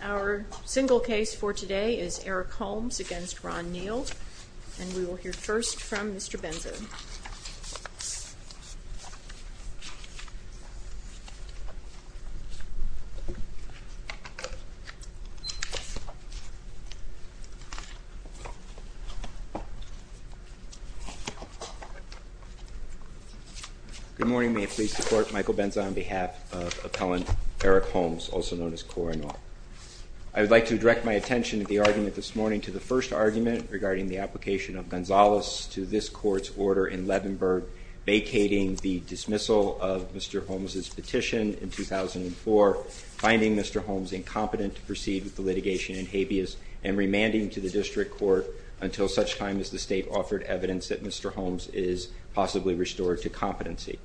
Our single case for today is Eric Holmes v. Ron Neal and we will hear first from Mr. Benzo. Good morning. May it please the court, Michael Benzo on behalf of appellant Eric Holmes, also known as Cor and all. I would like to direct my attention at the argument this morning to the first argument regarding the application of Gonzales to this court's order in Levenberg vacating the dismissal of Mr. Holmes's petition in 2004, finding Mr. Holmes incompetent to proceed with the litigation in habeas and remanding to the district court until such time as the state offered evidence that Mr. Holmes is possibly restored to competency.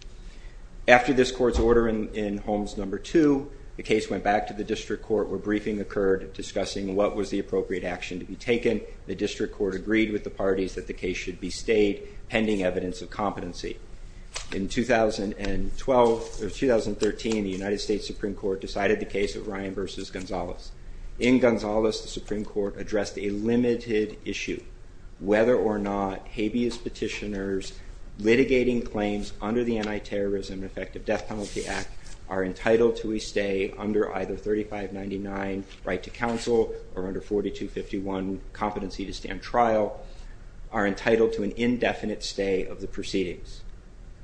After this court's order in Holmes number two, the case went back to the district court where briefing occurred discussing what was the appropriate action to be taken. The district court agreed with the parties that the case should be stayed pending evidence of competency. In 2012 or 2013, the United States Supreme Court decided the case of Ryan v. Gonzales. In Gonzales, the Supreme Court addressed a limited issue whether or not habeas petitioners litigating claims under the Anti-Terrorism and Effective Death Penalty Act are entitled to a stay under either 3599 right to counsel or under 4251 competency to stand trial are entitled to an indefinite stay of the proceedings.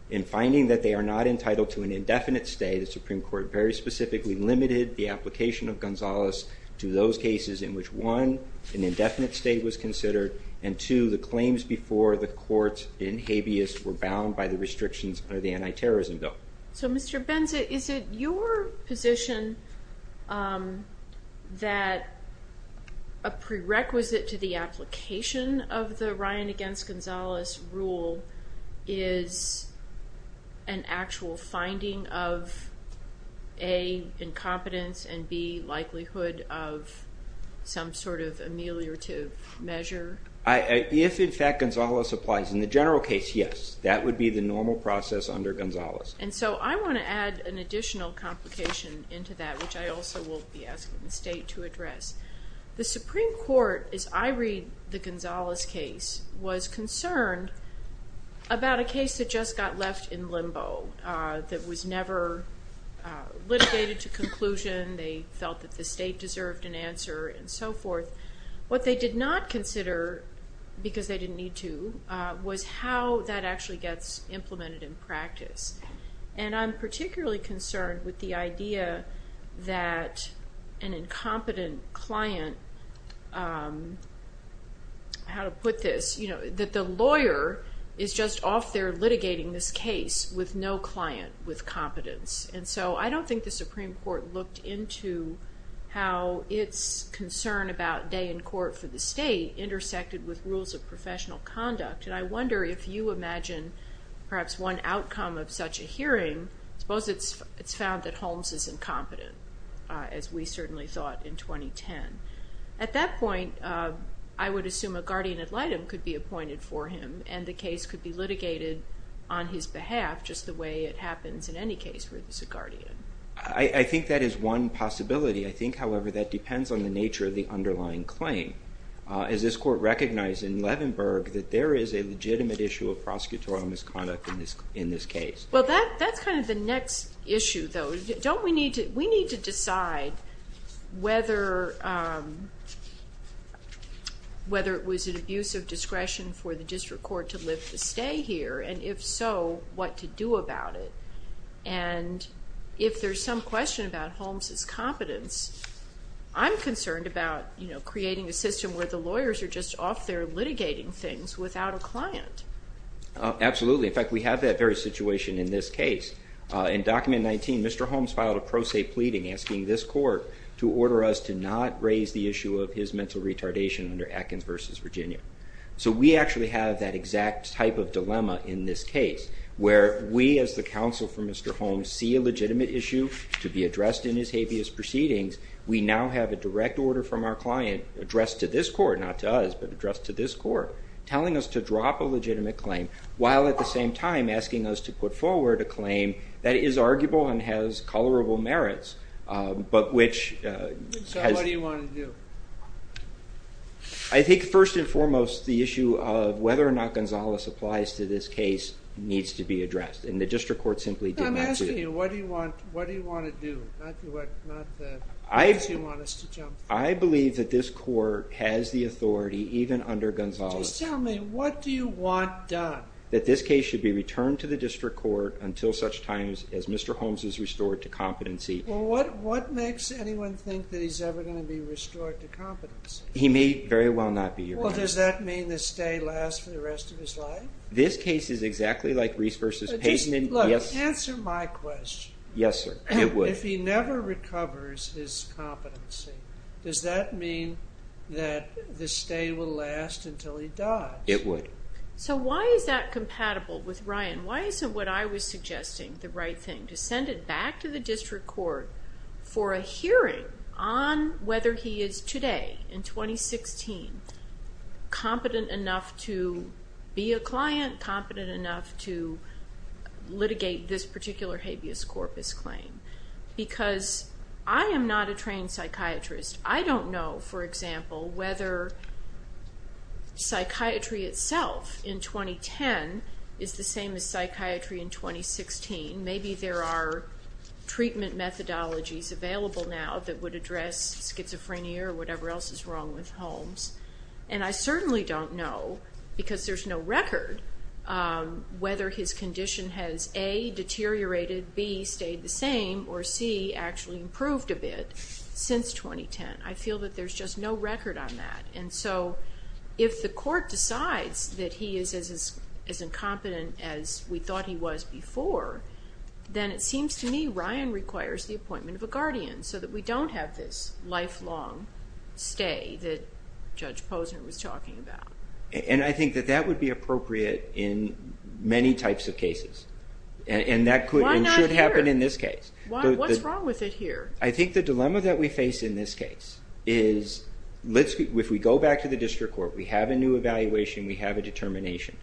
In finding that they are not entitled to an indefinite stay, the Supreme Court very specifically limited the application of Gonzales to those cases in which one, an indefinite stay was considered and two, the claims before the court in habeas were bound by the restrictions under the Anti-Terrorism Bill. So Mr. Benza, is it your position that a prerequisite to the application of the Ryan v. Gonzales rule is an actual finding of A, incompetence and B, likelihood of some sort of ameliorative measure? If in fact Gonzales applies, in the general case, yes. That would be the normal process under Gonzales. And so I want to add an additional complication into that which I also will be asking the state to address. The Supreme Court, as I read the Gonzales case, was concerned about a case that just got left in limbo, that was never litigated to conclusion, they felt that the state deserved an answer and so forth. What they did not consider, because they didn't need to, was how that actually gets implemented in practice. And I'm particularly concerned with the idea that an incompetent client, how to put this, that the lawyer is just off there litigating this case with no client with competence. And so I don't think the Supreme Court looked into how its concern about day in court for the state intersected with rules of professional conduct. And I wonder if you imagine perhaps one outcome of such a hearing, suppose it's found that Holmes is incompetent, as we certainly thought in 2010. At that point, I would assume a guardian ad litem could be appointed for him and the case could be litigated on his behalf just the way it happens in any case where there's a guardian. I think that is one possibility. I think, however, that depends on the nature of the underlying claim. Is this court recognizing in Levenberg that there is a legitimate issue of prosecutorial misconduct in this case? Well, that's kind of the next issue, though. We need to decide whether it was an abuse of discretion for the district court to lift the stay here, and if so, what to do about it. And if there's some question about Holmes' competence, I'm concerned about creating a system where the lawyers are just off there litigating things without a client. Absolutely. In fact, we have that very situation in this case. In Document 19, Mr. Holmes filed a pro se pleading asking this court to order us to not raise the issue of his mental retardation under Atkins v. Virginia. So we actually have that exact type of dilemma in this case, where we as the counsel for Mr. Holmes see a legitimate issue to be addressed in his habeas proceedings. We now have a direct order from our client addressed to this court, not to us, but addressed to this court, telling us to drop a legitimate claim, while at the same time asking us to put forward a claim that is arguable and has colorable merits. So what do you want to do? I think first and foremost, the issue of whether or not Gonzalez applies to this case needs to be addressed, and the district court simply did not... I'm asking you, what do you want to do? I believe that this court has the authority, even under Gonzalez... Just tell me, what do you want done? That this case should be returned to the district court until such time as Mr. Holmes is restored to competency. Well, what makes anyone think that he's ever going to be restored to competency? He may very well not be, Your Honor. Well, does that mean the stay lasts for the rest of his life? This case is exactly like Reese v. Peyton. Answer my question. Yes, sir. It would. If he never recovers his competency, does that mean that the stay will last until he dies? It would. So why is that compatible with Ryan? Why isn't what I was suggesting the right thing, to send it back to the district court for a hearing on whether he is today, in 2016, competent enough to be a client, competent enough to litigate this particular habeas corpus claim? Because I am not a trained psychiatrist. I don't know, for example, whether psychiatry itself in 2010 is the same as psychiatry in 2016. Maybe there are treatment methodologies available now that would address schizophrenia or whatever else is wrong with Holmes. And I certainly don't know, because there's no record, whether his condition has, A, deteriorated, B, stayed the same, or C, actually improved a bit since 2010. I feel that there's just no record on that. And so, if the court decides that he is as incompetent as we thought he was before, then it seems to me Ryan requires the appointment of a guardian so that we don't have this lifelong stay that Judge Posner was talking about. And I think that that would be appropriate in many types of cases. And that could happen in this case. What's wrong with it here? I think the dilemma that we face in this case is, if we go back to the district court, we have a new evaluation, we have a determination.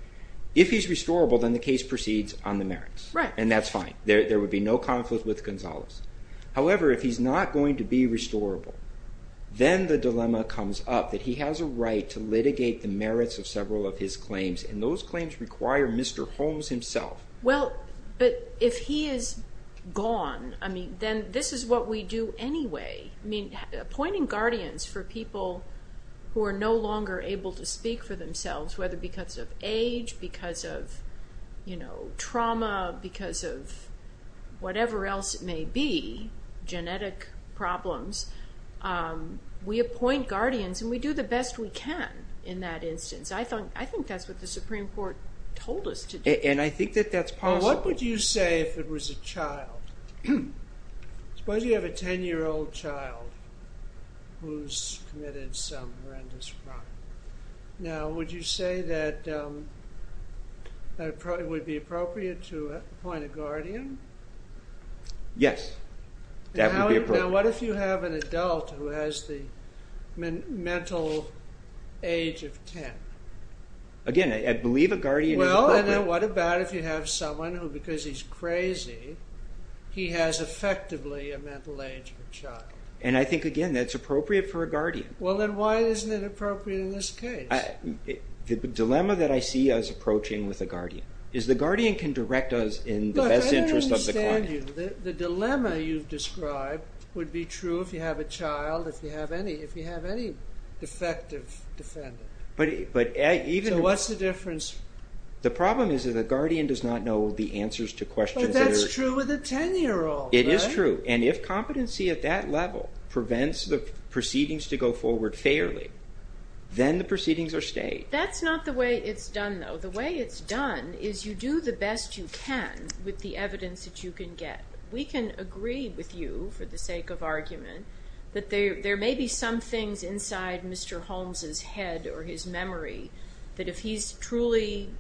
If he's restorable then the case proceeds on the merits. And that's fine. There would be no conflict with Gonzalez. However, if he's not going to be restorable then the dilemma comes up that he has a right to litigate the merits of several of his claims. And those claims require Mr. Holmes himself. Well, but if he is gone, then this is what we do anyway. Appointing guardians for people who are no longer able to speak for themselves, whether because of age, because of trauma, because of whatever else it may be, genetic problems, we appoint guardians and we do the best we can in that instance. I think that's what the Supreme Court told us to do. And I think that that's possible. What would you say if it was a child? Suppose you have a 10 year old child who's committed some horrendous crime. Now, would you say that it would be appropriate to appoint a guardian? Yes, that would be appropriate. Now, what if you have an adult who has the mental age of 10? Again, I believe a guardian is appropriate. Well, and then what about if you have someone who, because he's crazy, he has effectively a mental age of a child? And I think, again, that's appropriate for a guardian. Well, then why isn't it appropriate in this case? The dilemma that I see us approaching with a guardian is the guardian can direct us in the best interest of the client. Look, I don't understand you. The dilemma you've described would be true if you have a child, if you have any defective defendant. So what's the difference? The problem is that a guardian does not know the answers to questions. But that's true with a 10 year old. It is true. And if competency at that level prevents the proceedings to go forward fairly, then the proceedings are stayed. That's not the way it's done, though. The way it's done is you do the best you can with the evidence that you can get. We can agree with you, for the sake of argument, that there may be some things inside Mr. Holmes' head or his memory that if he's truly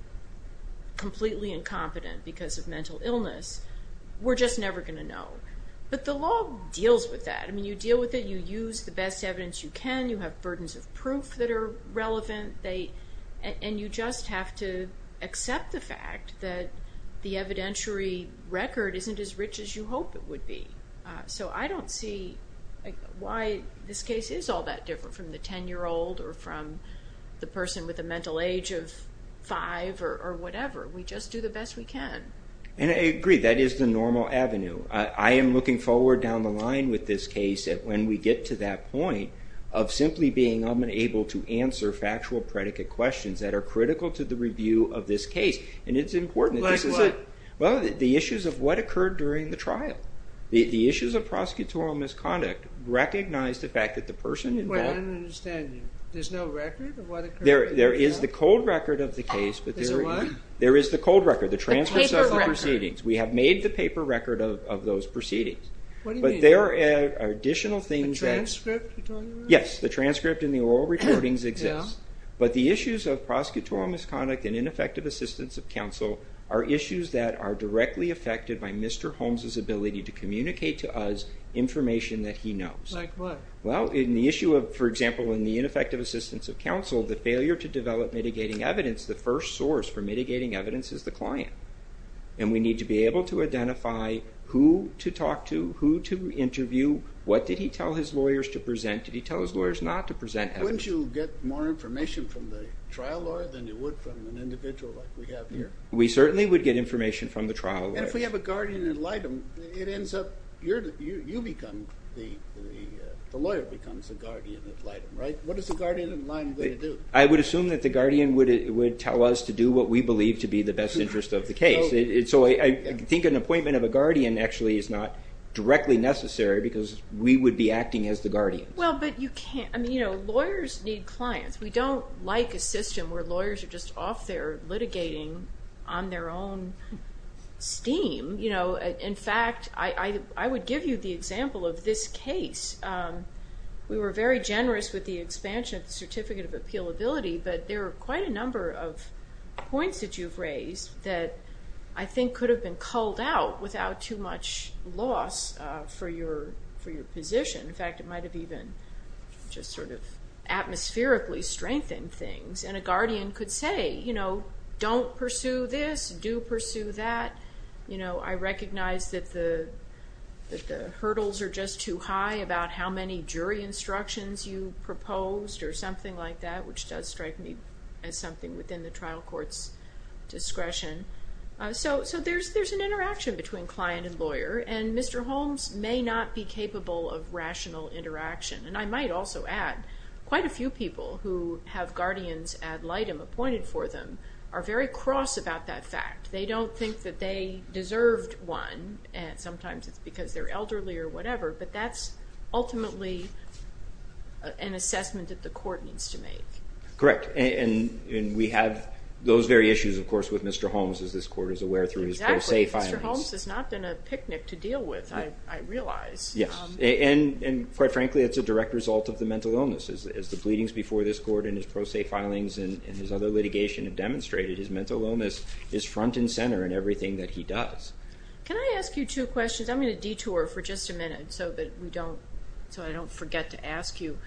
completely incompetent because of mental illness, we're just never going to know. But the law deals with that. You deal with it. You use the best evidence you can. You have burdens of proof that are relevant. And you just have to accept the fact that the evidentiary record isn't as rich as you hope it would be. So I don't see why this case is all that different from the 10 year old or from the person with a mental age of 5 or whatever. We just do the best we can. And I agree. That is the normal avenue. I am looking forward down the line with this case that when we get to that point of simply being unable to answer factual predicate questions that are critical to the review of this case. And it's important that this is a... Like what? Well, the issues of what occurred during the trial. The issues of prosecutorial misconduct recognize the fact that the person involved... Wait, I don't understand you. There's no record of what occurred? There is the cold record of the case. There's a what? There is the cold record. The transcripts of the proceedings. We have made the paper record of those proceedings. What do you mean? But there are additional things that... A transcript? Yes, the transcript and the oral recordings exist. But the issues of prosecutorial misconduct and ineffective assistance of counsel are issues that are directly affected by Mr. Holmes' ability to communicate to us information that he knows. Like what? Well, in the issue of, for example, in the ineffective assistance of counsel, the failure to develop mitigating evidence, the first source for mitigating evidence is the client. And we need to be able to identify who to talk to, who to interview, what did he tell his lawyers to present, did he tell his lawyers not to present evidence. Wouldn't you get more information from the trial lawyer than you would from an individual like we have here? We certainly would get information from the trial lawyer. And if we have a guardian ad litem, it ends up you become the... The lawyer becomes the guardian ad litem, right? What is the guardian ad litem going to do? I would assume that the guardian would tell us to do what we believe to be the best interest of the case. So I think an appointment of a guardian actually is not directly necessary because we would be acting as the guardian. Well, but you can't... I mean, lawyers need clients. We don't like a system where lawyers are just off there litigating on their own steam. In fact, I would give you the example of this case. We were very generous with the expansion of the certificate of appealability, but there are quite a number of points that you've raised that I think could have been culled out without too much loss for your position. In fact, it might have even just sort of atmospherically strengthened things. And a guardian could say, you know, don't pursue this, do pursue that. You know, I recognize that the jury instructions you proposed or something like that, which does strike me as something within the trial court's discretion. So there's an interaction between client and lawyer and Mr. Holmes may not be capable of rational interaction. And I might also add, quite a few people who have guardians ad litem appointed for them are very cross about that fact. They don't think that they deserved one, and sometimes it's because they're elderly or whatever, but that's ultimately an assessment that the court needs to make. Correct. And we have those very issues, of course, with Mr. Holmes, as this court is aware through his pro se filings. Exactly. Mr. Holmes has not been a picnic to deal with, I realize. And quite frankly, it's a direct result of the mental illness. As the bleedings before this court and his pro se filings and his other litigation have demonstrated, his mental illness is front and center in everything that he does. Can I ask you two questions? I'm going to detour for just a minute so I don't forget to ask you.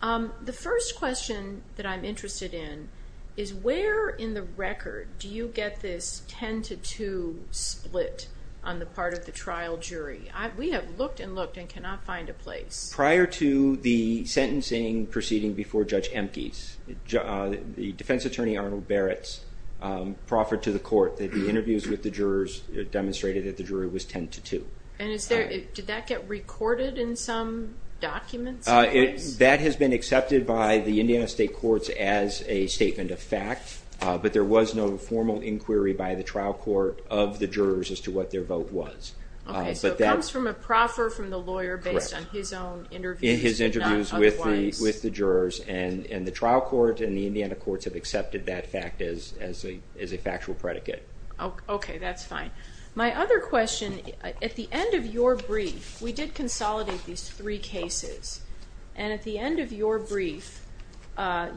The first question that I'm interested in is where in the record do you get this 10-2 split on the part of the trial jury? We have looked and looked and cannot find a place. Prior to the sentencing proceeding before Judge Emkes, the defense attorney Arnold Barrett's proffer to the court that the interviews with the jurors demonstrated that the jury was 10-2. And did that get recorded in some documents? That has been accepted by the Indiana State Courts as a statement of fact, but there was no formal inquiry by the trial court of the jurors as to what their vote was. Okay, so it comes from a proffer from the lawyer based on his own interviews, not otherwise. In his interviews with the jurors, and the trial court and the Indiana courts have accepted that fact as a factual predicate. Okay, that's fine. My other question, at the end of your brief, we did consolidate these three cases and at the end of your brief,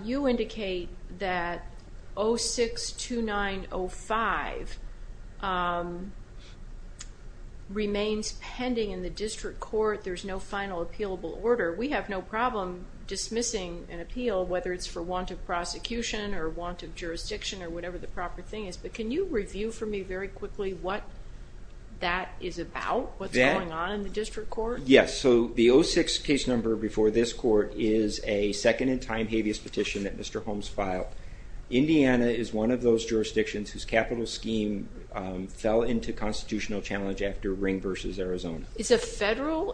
you indicate that 06-2905 remains pending in the district court. There's no final appealable order. We have no problem dismissing an appeal, whether it's for want of prosecution or want of things. But can you review for me very quickly what that is about? What's going on in the district court? Yes, so the 06 case number before this court is a second-in-time habeas petition that Mr. Holmes filed. Indiana is one of those jurisdictions whose capital scheme fell into constitutional challenge after Ring v. Arizona. Is a federal,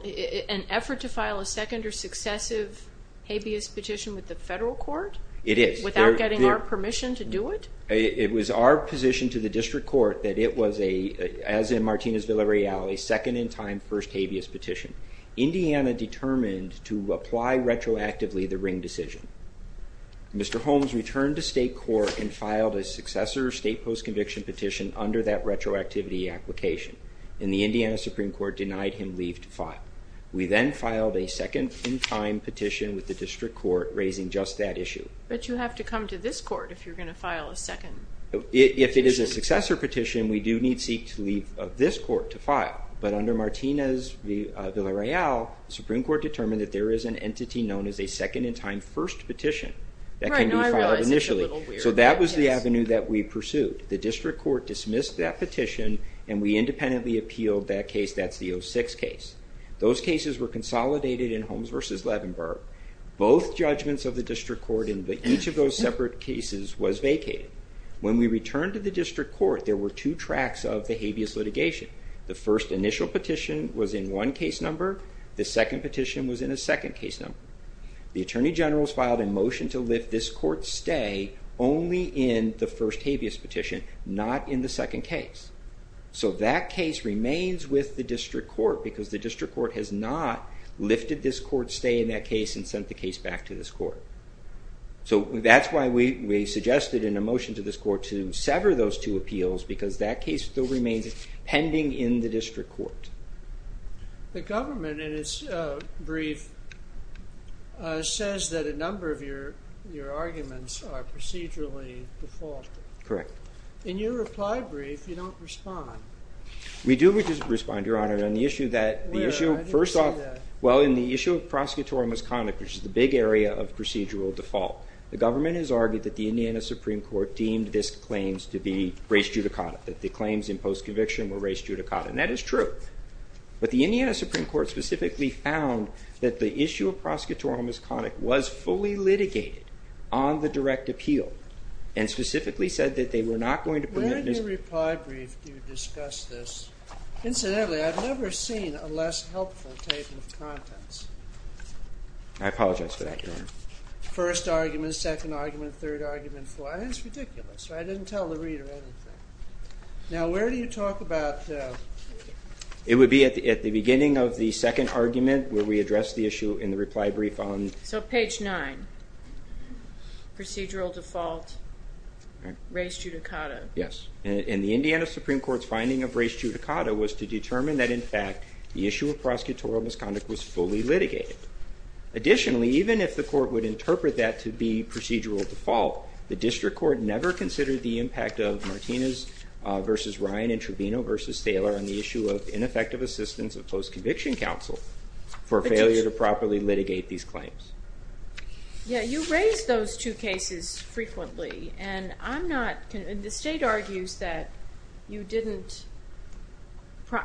an effort to file a second or successive habeas petition with the federal court? It is. Without getting our position to the district court that it was a, as in Martinez-Villareal, a second-in-time first habeas petition, Indiana determined to apply retroactively the Ring decision. Mr. Holmes returned to state court and filed a successor state post-conviction petition under that retroactivity application, and the Indiana Supreme Court denied him leave to file. We then filed a second-in-time petition with the district court, raising just that issue. But you have to come to this court if you're going to file a second. If it is a successor petition, we do need seek to leave this court to file, but under Martinez-Villareal, the Supreme Court determined that there is an entity known as a second-in-time first petition that can be filed initially. Right, now I realize it's a little weird. So that was the avenue that we pursued. The district court dismissed that petition, and we independently appealed that case, that's the 06 case. Those cases were consolidated in Holmes v. Levenberg. Both judgments of the district court each of those separate cases was vacated. When we returned to the district court, there were two tracks of the habeas litigation. The first initial petition was in one case number, the second petition was in a second case number. The Attorney General's filed a motion to lift this court's stay only in the first habeas petition, not in the second case. So that case remains with the district court because the district court has not lifted this court's stay in that case and sent the motion to this court to sever those two appeals because that case still remains pending in the district court. The government, in its brief, says that a number of your arguments are procedurally defaulted. Correct. In your reply brief, you don't respond. We do respond, Your Honor. Where? I didn't see that. Well, in the issue of prosecutorial misconduct, which is the big area of procedural default, the government has argued that the Indiana Supreme Court deemed this claims to be res judicata, that the claims in post-conviction were res judicata. And that is true. But the Indiana Supreme Court specifically found that the issue of prosecutorial misconduct was fully litigated on the direct appeal and specifically said that they were not going to permit this. Where in your reply brief do you discuss this? I apologize for that, Your Honor. First argument, second argument, third argument. It's ridiculous. I didn't tell the reader anything. Now, where do you talk about... It would be at the beginning of the second argument where we address the issue in the reply brief on... So, page 9. Procedural default. Res judicata. Yes. And the Indiana Supreme Court's finding of res judicata was to determine that, in fact, the issue of prosecutorial misconduct was fully litigated. Additionally, even if the court would interpret that to be procedural default, the district court never considered the impact of Martinez v. Ryan and Trevino v. Thaler on the issue of ineffective assistance of post-conviction counsel for failure to properly litigate these claims. You raise those two cases frequently and I'm not... The state argues that you didn't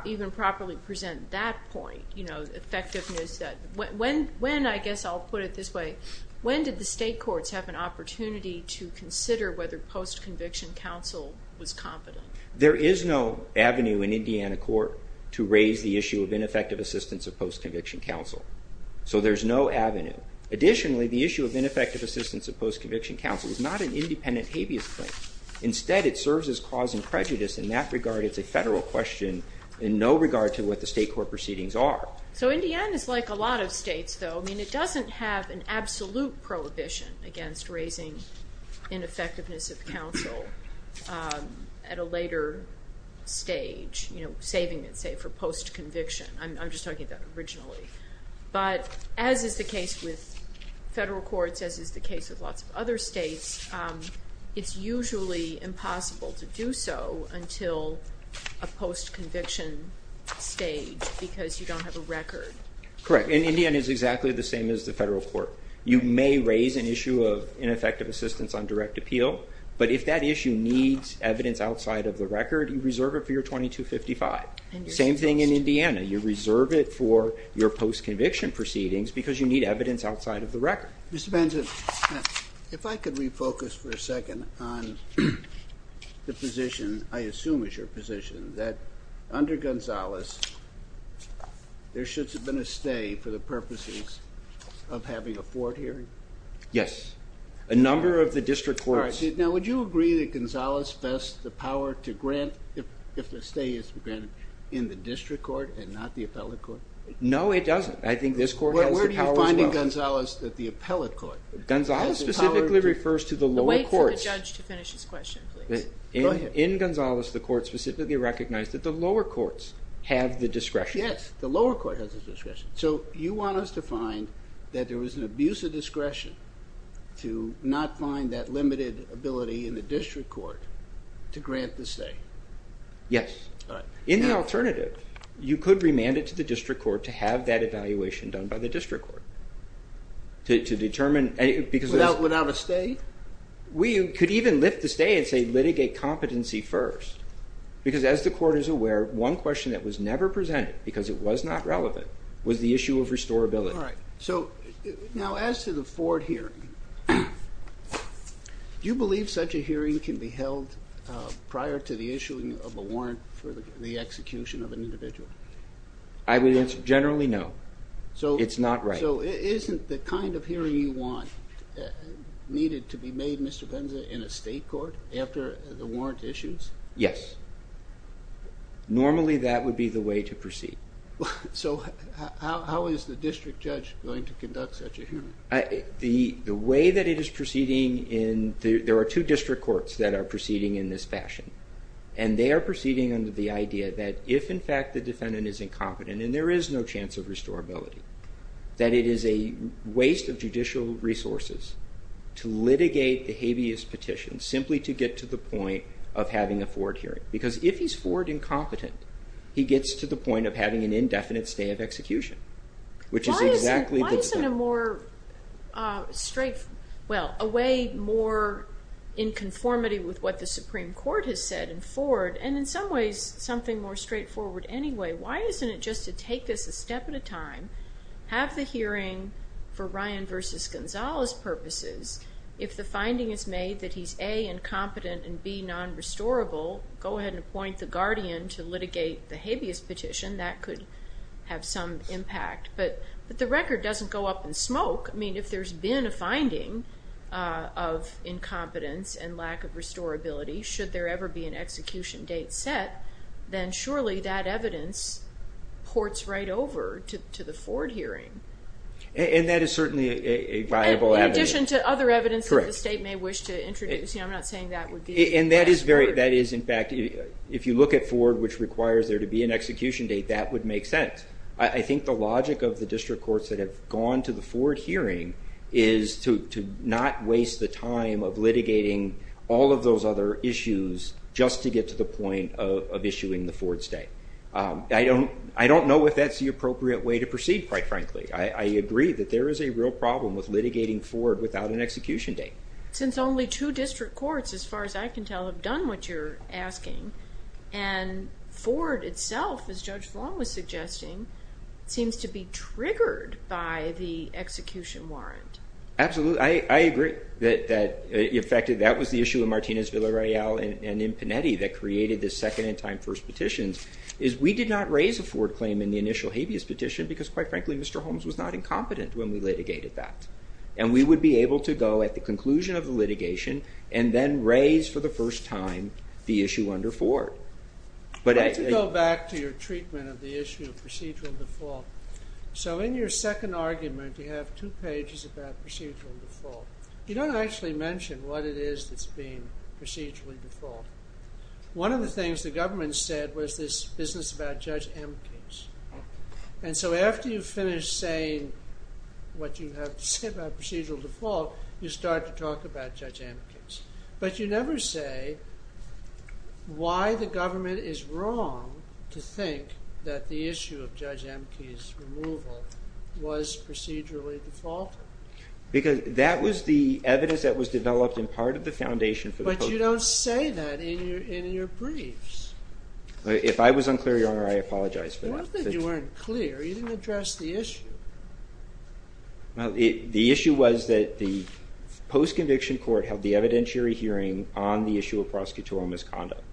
even properly present that point, you know, effectiveness. When, I guess I'll put it this way, when did the state courts have an opportunity to consider whether post-conviction counsel was competent? There is no avenue in Indiana court to raise the issue of ineffective assistance of post-conviction counsel. So there's no avenue. Additionally, the issue of ineffective assistance of post-conviction counsel is not an independent habeas claim. Instead, it serves as cause and prejudice. In that there is no question in no regard to what the state court proceedings are. So Indiana is like a lot of states, though. I mean, it doesn't have an absolute prohibition against raising ineffectiveness of counsel at a later stage, you know, saving it, say, for post-conviction. I'm just talking about originally. But as is the case with federal courts, as is the case with lots of other states, it's usually impossible to do so until a post-conviction stage because you don't have a record. Correct. And Indiana is exactly the same as the federal court. You may raise an issue of ineffective assistance on direct appeal, but if that issue needs evidence outside of the record, you reserve it for your 2255. Same thing in Indiana. You reserve it for your post-conviction proceedings because you need evidence outside of the record. Mr. Banzit, if I could refocus for a second on the position, I assume it's your position, that under Gonzales, there should have been a stay for the purposes of having a court hearing? Yes. A number of the district courts. Now, would you agree that Gonzales vests the power to grant, if the stay is granted, in the district court and not the appellate court? No, it doesn't. I think this court has the power as well. Where do you find in Gonzales that the appellate court has the power Wait for the judge to finish his question, please. In Gonzales, the court specifically recognized that the lower courts have the discretion. Yes, the lower court has the discretion. So you want us to find that there was an abuse of discretion to not find that limited ability in the district court to grant the stay? Yes. In the alternative, you could remand it to the district court to have that evaluation done by the district court. Without a stay? We could even lift the stay and say litigate competency first. Because as the court is aware, one question that was never presented, because it was not relevant, was the issue of restorability. Now, as to the Ford hearing, do you believe such a hearing can be held prior to the issuing of a warrant for the execution of an individual? I would generally no. It's not right. So isn't the kind of hearing you want needed to be made, Mr. Venza, in a state court after the warrant issues? Yes. Normally that would be the way to proceed. So how is the district judge going to conduct such a hearing? The way that it is proceeding, there are two district courts that are proceeding in this fashion. That it is a waste of judicial resources to litigate the habeas petition simply to get to the point of having a Ford hearing. Because if he's Ford incompetent, he gets to the point of having an indefinite stay of execution. Why isn't a way more in conformity with what the Supreme Court has said in Ford, and in some ways something more straightforward anyway, why isn't it just to take this a step at a time, have the hearing for Ryan v. Gonzalez purposes, if the finding is made that he's A, incompetent, and B, non-restorable, go ahead and appoint the guardian to litigate the habeas petition. That could have some impact. But the record doesn't go up in smoke. I mean, if there's been a finding of incompetence and lack of restorability, should there ever be an execution date set, then surely that evidence ports right over to the Ford hearing. And that is certainly a viable evidence. In addition to other evidence that the state may wish to introduce. I'm not saying that would be the best. And that is, in fact, if you look at Ford, which requires there to be an execution date, that would make sense. I think the logic of the district courts that have gone to the Ford hearing is to not waste the time of litigating all of those other issues just to get to the point of issuing the Ford state. I don't know if that's the appropriate way to proceed, quite frankly. I agree that there is a real problem with litigating Ford without an execution date. Since only two district courts, as far as I can tell, have done what you're asking, and Ford itself, as Judge Long was suggesting, seems to be triggered by the execution warrant. Absolutely. I agree that, in fact, that was the issue in Martinez-Villareal and in Panetti that created the second and time first petitions, is we did not raise a Ford claim in the initial habeas petition because, quite frankly, Mr. Holmes was not incompetent when we litigated that. And we would be able to go at the conclusion of the litigation and then raise for the first time the issue under Ford. Let's go back to your treatment of the issue of procedural default. So in your second argument, you have two pages about procedural default. You don't actually mention what it is that's being procedurally default. One of the things the government said was this business about Judge Amkes. And so after you finish saying what you have to say about procedural default, you start to talk about Judge Amkes. But you never say why the government is wrong to think that the issue of Judge Amkes' removal was procedurally defaulted. Because that was the evidence that was developed in part of the foundation But you don't say that in your briefs. If I was unclear, Your Honor, I apologize for that. You didn't address the issue. The issue was that the post-conviction court held the evidentiary hearing on the issue of prosecutorial misconduct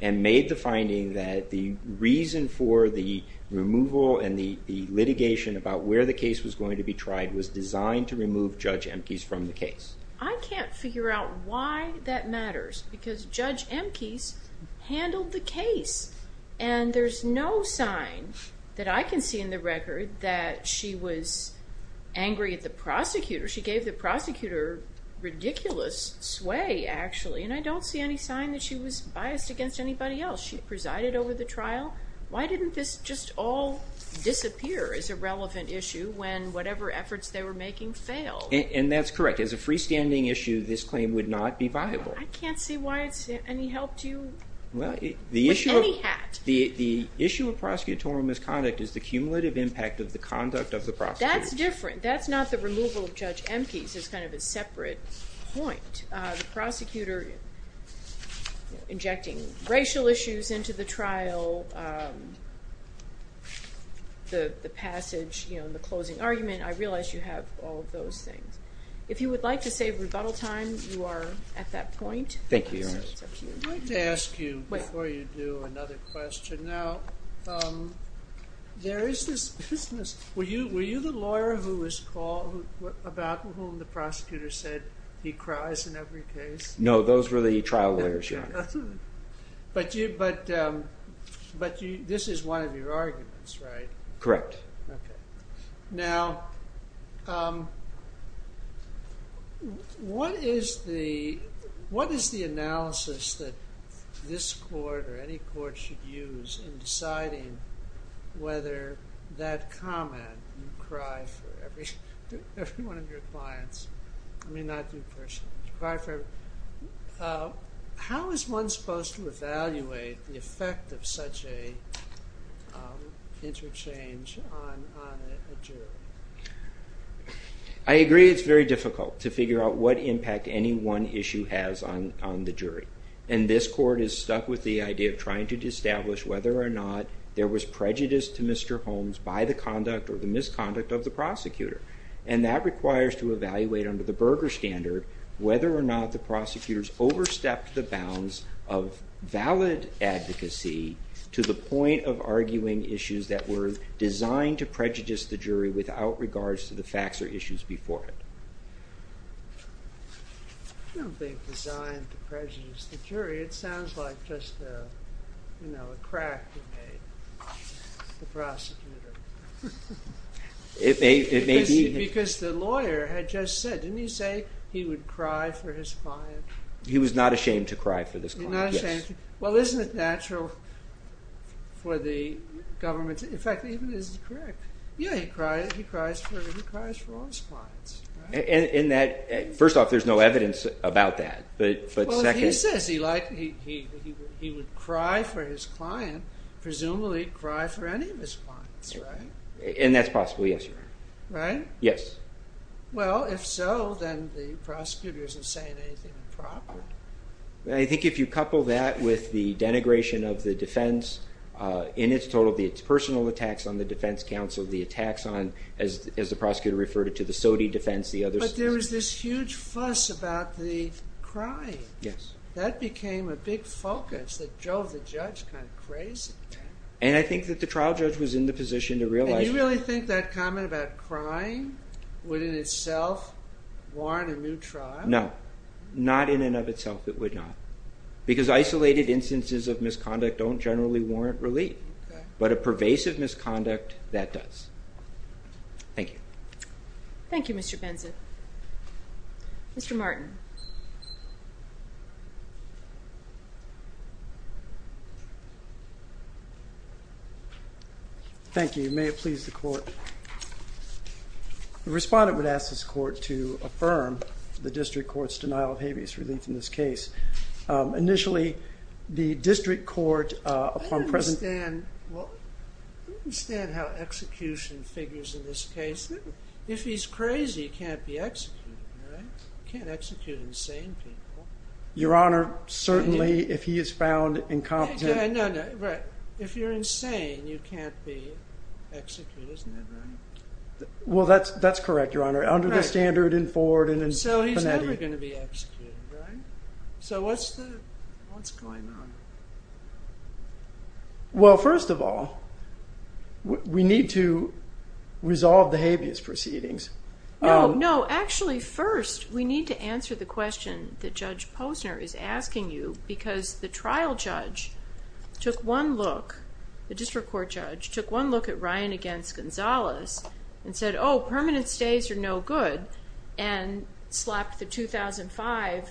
and made the finding that the reason for the removal and the litigation about where the case was going to be tried was designed to remove Judge Amkes from the case. I can't figure out why that matters. Because Judge Amkes handled the case. And there's no sign that I can see in the record that she was angry at the prosecutor. She gave the prosecutor ridiculous sway, actually. And I don't see any sign that she was biased against anybody else. She presided over the trial. Why didn't this just all disappear as a relevant issue when whatever efforts they were making failed? And that's correct. As a freestanding issue, this claim would not be viable. I can't see why it's any help to you with any hat. The issue of prosecutorial misconduct is the cumulative impact of the conduct of the prosecutor. That's different. That's not the removal of Judge Amkes. That's kind of a separate point. The prosecutor injecting racial issues into the trial the passage, the closing argument, I realize you have all of those things. If you would like to save rebuttal time, you are at that point. I'd like to ask you, before you do, another question. Were you the lawyer about whom the prosecutor said he cries in every case? No, those were the trial lawyers, Your Honor. But this is one of your arguments, right? Correct. Now, what is the analysis that this court or any court should use in deciding whether that comment, you cry for every one of your clients. I may not do personal. How is one supposed to evaluate the effect of such a interchange on a jury? I agree it's very difficult to figure out what impact any one issue has on the jury. And this court is stuck with the idea of trying to establish whether or not there was prejudice to Mr. Holmes by the conduct or the misconduct of the prosecutor. And that requires to evaluate under the Berger standard whether or not the prosecutors overstepped the bounds of valid advocacy to the point of arguing issues that were designed to prejudice the jury without regards to the facts or issues before it. I don't think designed to prejudice the jury. It sounds like just a crack in the prosecutor. Because the lawyer had just said, didn't he say he would cry for his client? He was not ashamed to cry for this client. Well, isn't it natural for the government, in fact, this is correct. Yeah, he cries for all his clients. First off, there's no evidence about that. He would cry for his client, presumably cry for any of his clients, right? And that's possible, yes, Your Honor. Right? Yes. Well, if so, then the prosecutor isn't saying anything improper. I think if you couple that with the denigration of the defense in its total, the personal attacks on the defense counsel, the attacks on, as the prosecutor referred to, the SOTY defense, the other... But there was this huge fuss about the And I think that the trial judge was in the position to realize... And you really think that comment about crying would in itself warrant a new trial? No. Not in and of itself, it would not. Because isolated instances of misconduct don't generally warrant relief. But a pervasive misconduct, that does. Thank you. Thank you, Mr. Benson. Mr. Martin. Thank you. May it please the Court. The Respondent would ask this Court to affirm the District Court's denial of habeas relief in this case. Initially, the District Court, upon present... I don't understand how execution figures in this case. If he's crazy, he can't be executed, right? Execute insane people. Your Honor, certainly if he is found incompetent... No, no. Right. If you're insane, you can't be executed, isn't that right? Well, that's correct, Your Honor. Under the standard in Ford and in Panetti. So he's never going to be executed, right? So what's the... What's going on? Well, first of all, we need to resolve the habeas proceedings. No, no. Actually, first, we need to answer the question that Judge Posner is asking you, because the trial judge took one look at Ryan against Gonzalez and said, oh, permanent stays are no good, and slapped the 2005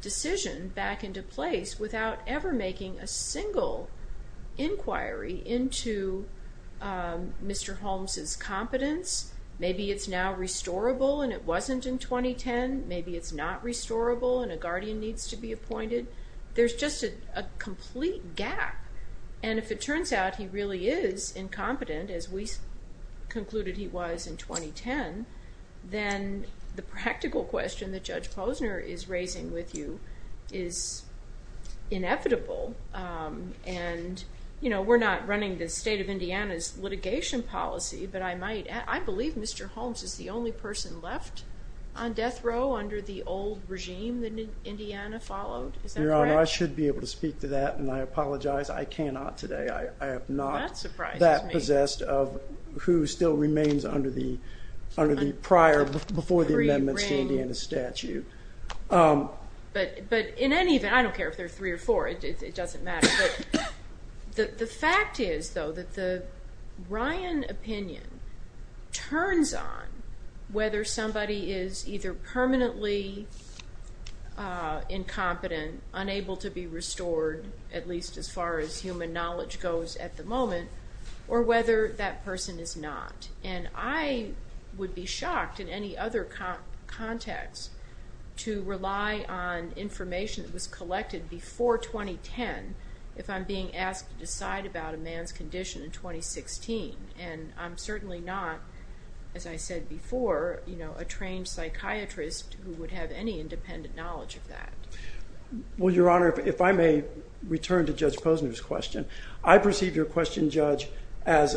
decision back into place without ever making a single inquiry into Mr. Holmes' competence. Maybe it's now restorable and it wasn't in 2010. Maybe it's not restorable and a guardian needs to be appointed. There's just a complete gap. And if it turns out he really is incompetent, as we concluded he was in 2010, then the practical question that Judge Posner is raising with you is inevitable. And, you know, we're not running the state of Indiana's litigation policy, but I might... I believe Mr. Holmes is the only person left on death row under the old regime that Indiana followed. Is that correct? Your Honor, I should be able to speak to that, and I apologize. I cannot today. I am not that possessed of who still remains under the prior, before the amendments to Indiana's statute. But in any event, I don't care if there are three or four. It doesn't matter. But the fact is, though, that the Ryan opinion turns on whether somebody is either permanently incompetent, unable to be restored, at least as far as human knowledge goes at the moment, or whether that person is not. And I would be shocked in any other context to rely on information that was collected before 2010 if I'm being asked to decide about a man's condition in 2016. And I'm certainly not, as I said before, you know, a trained psychiatrist who would have any independent knowledge of that. Well, Your Honor, if I may return to Judge Posner's question. I perceive your question, Judge, as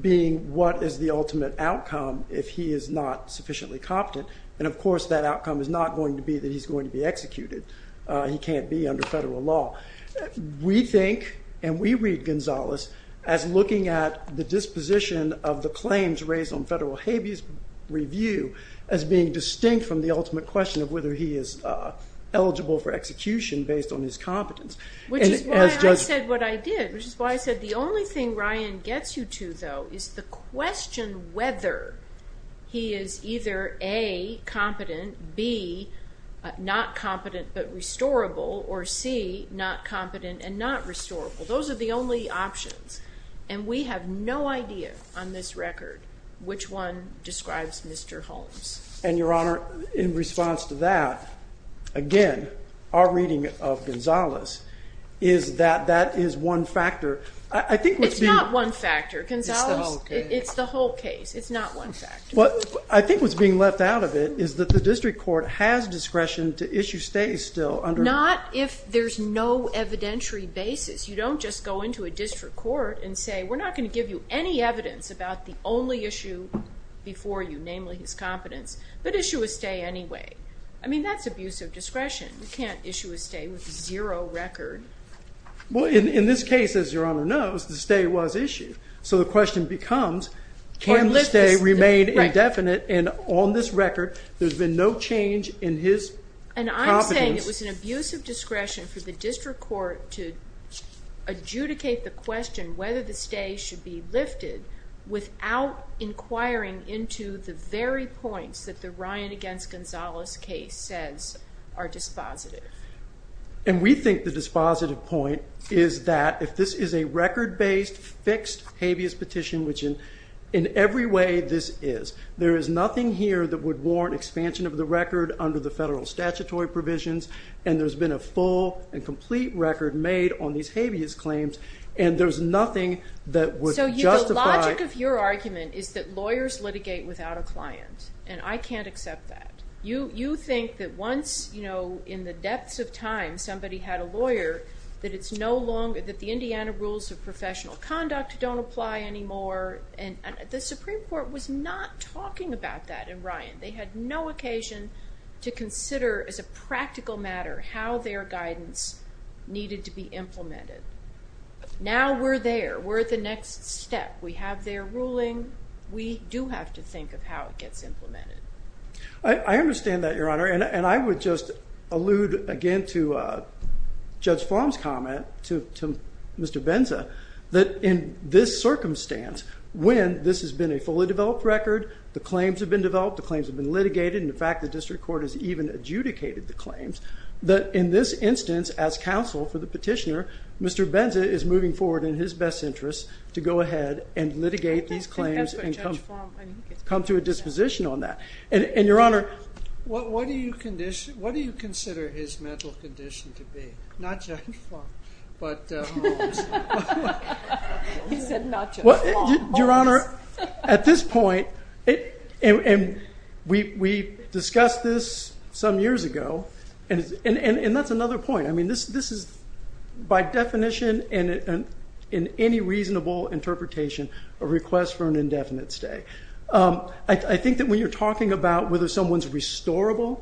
being what is the ultimate outcome if he is not sufficiently competent. And, of course, that outcome is not going to be that he's going to be executed. He can't be under federal law. We think, and we read Gonzales as looking at the disposition of the claims raised on federal habeas review as being distinct from the ultimate question of whether he is eligible for execution based on his competence. Which is why I said what I did. Which is why I said the only thing Ryan gets you to, though, is the question whether he is either A, competent, B, not competent, and not restorable. Those are the only options. And we have no idea on this record which one describes Mr. Holmes. And, Your Honor, in response to that, again, our reading of Gonzales is that that is one factor. It's not one factor. Gonzales, it's the whole case. It's not one factor. I think what's being left out of it is that the district court has discretion to issue and there's no evidentiary basis. You don't just go into a district court and say, we're not going to give you any evidence about the only issue before you, namely his competence, but issue a stay anyway. I mean, that's abuse of discretion. You can't issue a stay with zero record. Well, in this case, as Your Honor knows, the stay was issued. So the question becomes, can the stay remain indefinite? And on this record, there's been no change in his competence. And I'm saying it was an abuse of discretion for the district court to adjudicate the question whether the stay should be lifted without inquiring into the very points that the Ryan v. Gonzales case says are dispositive. And we think the dispositive point is that if this is a record-based, fixed habeas petition, which in every way this is, there is nothing here that would warrant expansion of the record under the federal statutory provisions, and there's been a full and complete record made on these habeas claims, and there's nothing that would justify... So the logic of your argument is that lawyers litigate without a client, and I can't accept that. You think that once, you know, in the depths of time, somebody had a lawyer that it's no longer, that the Indiana rules of professional conduct don't apply anymore, and the Supreme Court was not talking about that in Ryan. They had no occasion to consider, as a practical matter, how their guidance needed to be implemented. Now we're there. We're at the next step. We have their ruling. We do have to think of how it gets implemented. I understand that, Your Honor, and I would just allude again to Judge Flom's comment to Mr. Benza that in this circumstance, when this has been a developed, the claims have been litigated, and in fact the district court has even adjudicated the claims, that in this instance, as counsel for the petitioner, Mr. Benza is moving forward in his best interest to go ahead and litigate these claims and come to a disposition on that. And Your Honor... What do you consider his mental condition to be? Not Judge Flom, but Holmes. He said not Judge Flom. Holmes. Your Honor, at this point, we discussed this some years ago, and that's another point. This is, by definition, in any reasonable interpretation, a request for an indefinite stay. I think that when you're talking about whether someone's restorable,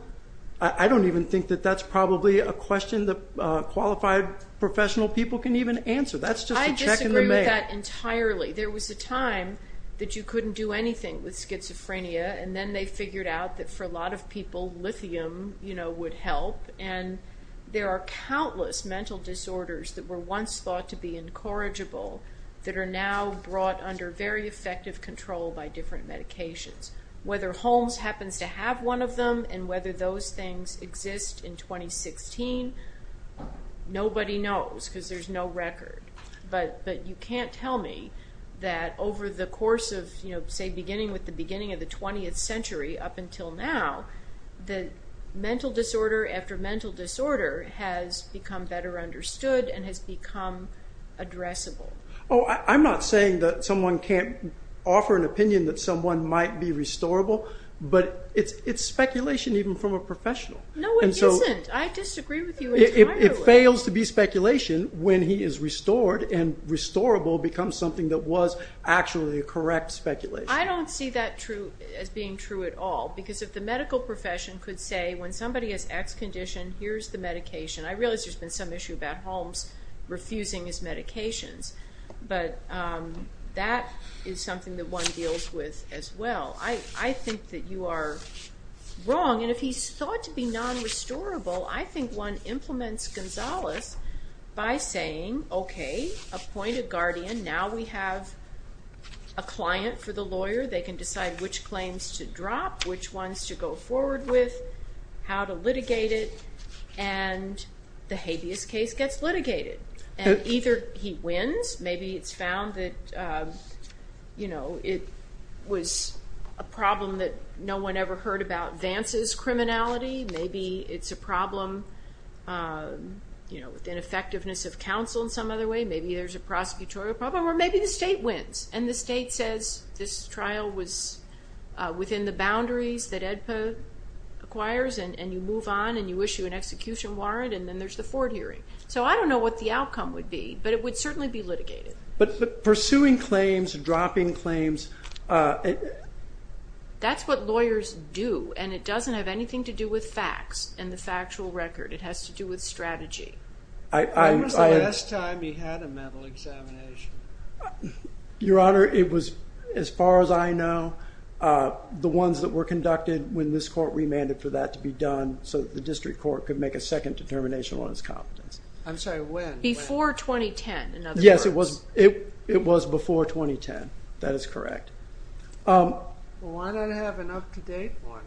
I don't even think that that's probably a question that qualified professional people can even answer. That's just a check in the mail. There was a time that you couldn't do anything with schizophrenia, and then they figured out that for a lot of people, lithium would help, and there are countless mental disorders that were once thought to be incorrigible, that are now brought under very effective control by different medications. Whether Holmes happens to have one of them, and whether those things exist in 2016, nobody knows, because there's no You can't tell me that over the course of, say, beginning with the beginning of the 20th century up until now, the mental disorder after mental disorder has become better understood and has become addressable. Oh, I'm not saying that someone can't offer an opinion that someone might be restorable, but it's speculation even from a professional. No, it isn't. I disagree with you entirely. It fails to be speculation when he is restored, and restorable becomes something that was actually a correct speculation. I don't see that as being true at all, because if the medical profession could say, when somebody has X condition, here's the medication. I realize there's been some issue about Holmes refusing his medications, but that is something that one deals with as well. I think that you are wrong, and if he's thought to be non-restorable, I think one implements Gonzales by saying, okay, appoint a guardian. Now we have a client for the lawyer. They can decide which claims to drop, which ones to go forward with, how to litigate it, and the habeas case gets litigated, and either he wins. Maybe it's found that it was a problem that no one ever heard about advances criminality. Maybe it's a problem with the ineffectiveness of counsel in some other way. Maybe there's a prosecutorial problem, or maybe the state wins. The state says this trial was within the boundaries that AEDPA acquires, and you move on, and you issue an execution warrant, and then there's the Ford hearing. I don't know what the outcome would be, but it would certainly be litigated. Pursuing claims, dropping claims, that's what lawyers do, and it doesn't have anything to do with facts and the factual record. It has to do with strategy. When was the last time he had a mental examination? Your Honor, it was, as far as I know, the ones that were conducted when this court remanded for that to be done so that the district court could make a second determination on his competence. Before 2010, in other words. Yes, it was before 2010. That is correct. Why not have an up-to-date one?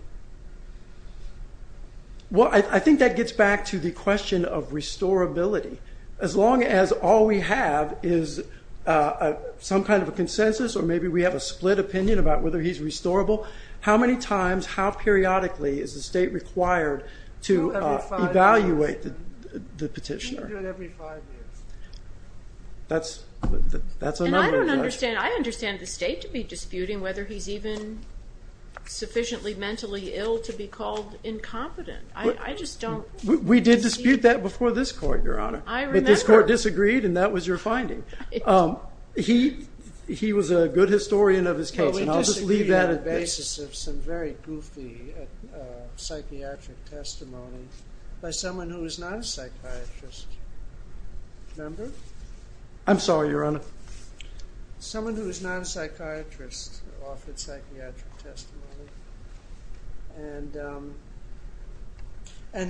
I think that gets back to the question of restorability. As long as all we have is some kind of a consensus, or maybe we have a split opinion about whether he's restorable, how many times, how periodically is the state required to evaluate the petitioner? I understand the state to be disputing whether he's even sufficiently mentally ill to be called incompetent. I just don't... We did dispute that before this court, Your Honor. I remember. But this court disagreed, and that was your finding. He was a good historian of his case, and I'll just leave that basis of some very goofy psychiatric testimony by someone who is not a psychiatrist. Remember? I'm sorry, Your Honor. Someone who is not a psychiatrist offered psychiatric testimony. And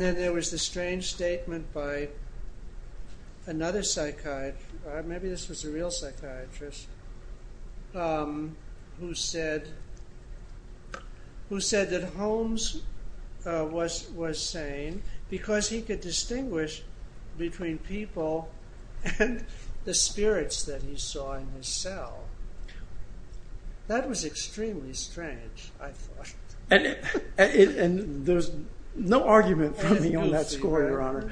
then there was this strange statement by another psychiatrist, maybe this was a real psychiatrist, who said that Holmes was sane because he could distinguish between people and the spirits that he saw in his cell. That was extremely strange, I thought. And there's no argument from me on that score, Your Honor.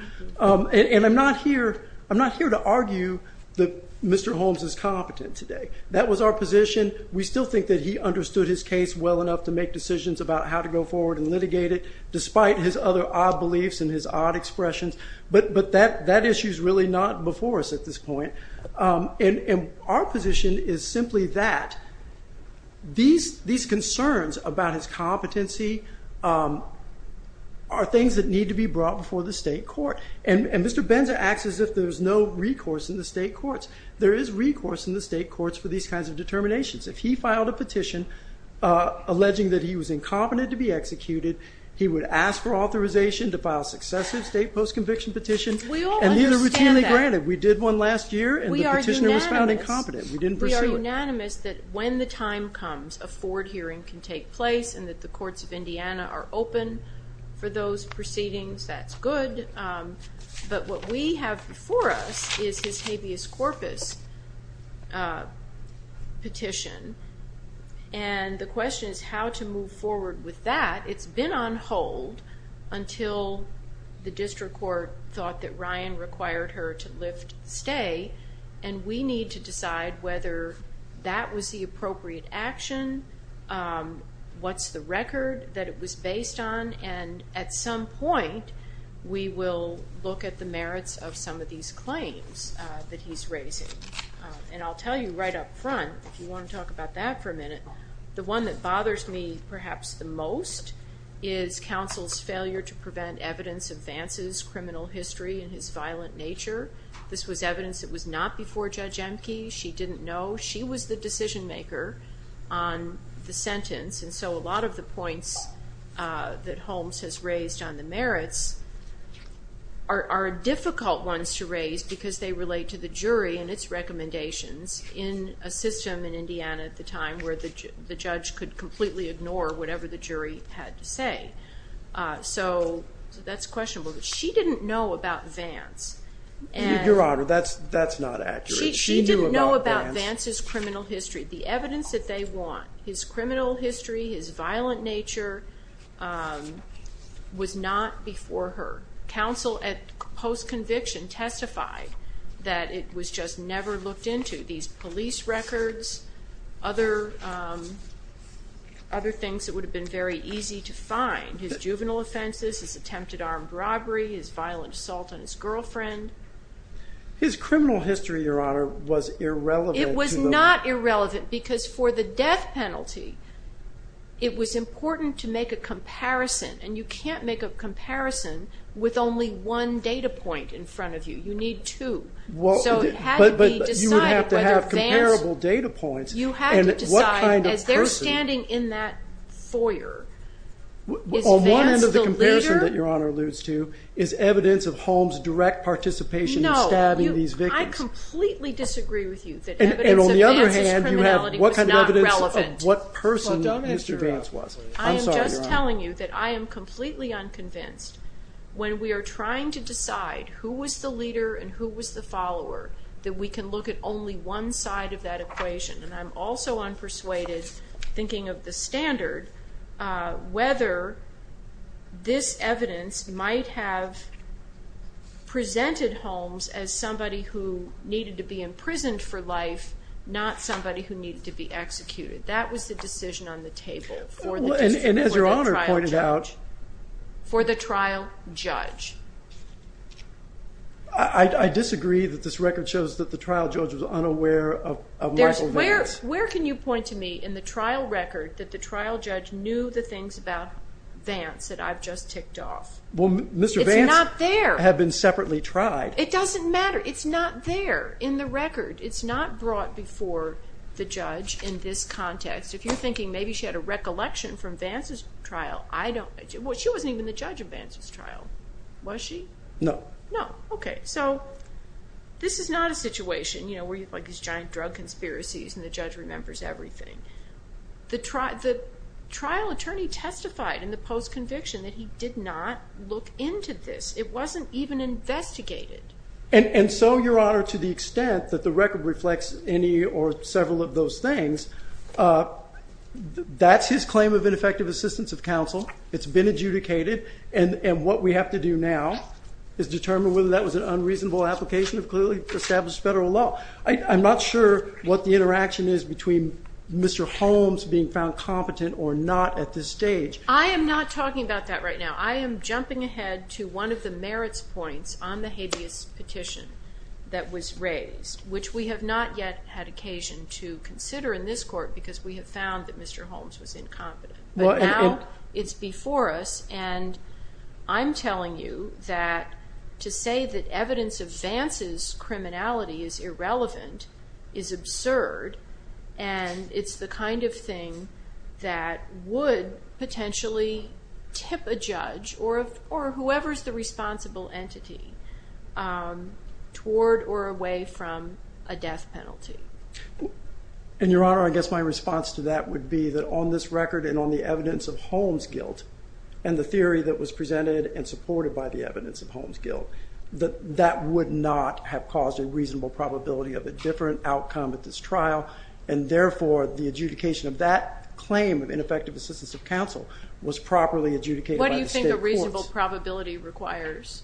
And I'm not here to argue that Mr. Holmes is competent today. That was our position. We still think that he understood his case well enough to make decisions about how to go forward and litigate it, despite his other odd beliefs and his odd expressions. But that issue's really not before us at this point. And our position is simply that these concerns about his competency are things that need to be brought before the state court. And Mr. Benza acts as if there's no recourse in the state courts. There is recourse in the state courts for these kinds of determinations. If he filed a petition alleging that he was incompetent to be executed, he would ask for authorization to file successive state post-conviction petitions. And these are routinely granted. We did one last year, and the petitioner was found incompetent. We didn't pursue it. We are unanimous that when the time comes, a forward hearing can take place and that the courts of Indiana are open for those proceedings. That's good. But what we have before us is his habeas corpus petition. And the question is how to move forward with that. It's been on hold until the district court thought that Ryan required her to lift stay. And we need to decide whether that was the appropriate action, what's the record that it was based on, and at some point, we will look at the merits of some of these claims that he's raising. And I'll tell you right up front, if you want to talk about that for a minute, the one that bothers me perhaps the most is counsel's failure to prevent evidence of Vance's criminal history and his violent nature. This was evidence that was not before Judge Emke. She didn't know. She was the decision maker on the sentence. And so a lot of the points that Holmes has raised on the merits are difficult ones to raise because they relate to the jury and its recommendations in a system in Indiana at the time where the judge could completely ignore whatever the jury had to say. So that's questionable. She didn't know about Vance. Your Honor, that's not accurate. She didn't know about Vance's criminal history. The evidence that they want, his criminal history, his violent nature, was not before her. Counsel at post-conviction testified that it was just never looked into. These police records, other things that would have been very easy to find, his juvenile offenses, his attempted armed robbery, his violent assault on his girlfriend. His criminal history, Your Honor, was irrelevant. It was not irrelevant because for the death penalty, it was important to make a comparison. And you can't make a comparison with only one data point in front of you. You need two. So it had to decide as they're standing in that foyer, is Vance the leader? On one end of the comparison that Your Honor alludes to is evidence of Holmes' direct participation in stabbing these victims. No. I completely disagree with you that evidence of Vance's criminality was not relevant. And on the other hand, you have what kind of evidence of what person Mr. Vance was. I am just telling you that I am completely unconvinced when we are trying to decide who was the leader and who was the follower, that we can look at only one side of that equation. And I'm also unpersuaded thinking of the standard, whether this evidence might have presented Holmes as somebody who needed to be imprisoned for life not somebody who needed to be executed. That was the decision on the table for the trial judge. And as Your Honor pointed out, for the trial judge. I disagree that this record shows that the trial judge was unaware of Michael Vance. Where can you point to me in the trial record that the trial judge knew the things about Vance that I've just ticked off? Mr. Vance had been separately tried. It doesn't matter. It's not there in the record. It's not brought before the judge in this context. If you're thinking maybe she had a recollection from Vance's trial, she wasn't even the judge of Vance's trial. Was she? No. Okay. So this is not a situation where you have these giant drug conspiracies and the judge remembers everything. The trial attorney testified in the post-conviction that he did not look into this. It wasn't even investigated. And so, Your Honor, to the extent that the record reflects any or several of those things, that's his claim of ineffective assistance of counsel. It's been adjudicated. And what we have to do now is determine whether that was an unreasonable application of clearly established federal law. I'm not sure what the interaction is between Mr. Holmes being found competent or not at this stage. I am not talking about that right now. I am jumping ahead to one of the merits points on the habeas petition that was raised, which we have not yet had occasion to consider in this court because we have found that Mr. Holmes was incompetent. But now it's before us and I'm telling you that to say that evidence of Vance's criminality is irrelevant is absurd and it's the kind of thing that would potentially tip a judge or whoever is the responsible entity toward or away from a death penalty. And, Your Honor, I guess my response to that would be that on this record and on the evidence of Holmes' guilt and the theory that was presented and supported by the evidence of Holmes' guilt, that would not have caused a reasonable probability of a different outcome at this trial and therefore the adjudication of that claim of ineffective assistance of counsel was properly adjudicated by the state courts. What do you think a reasonable probability requires?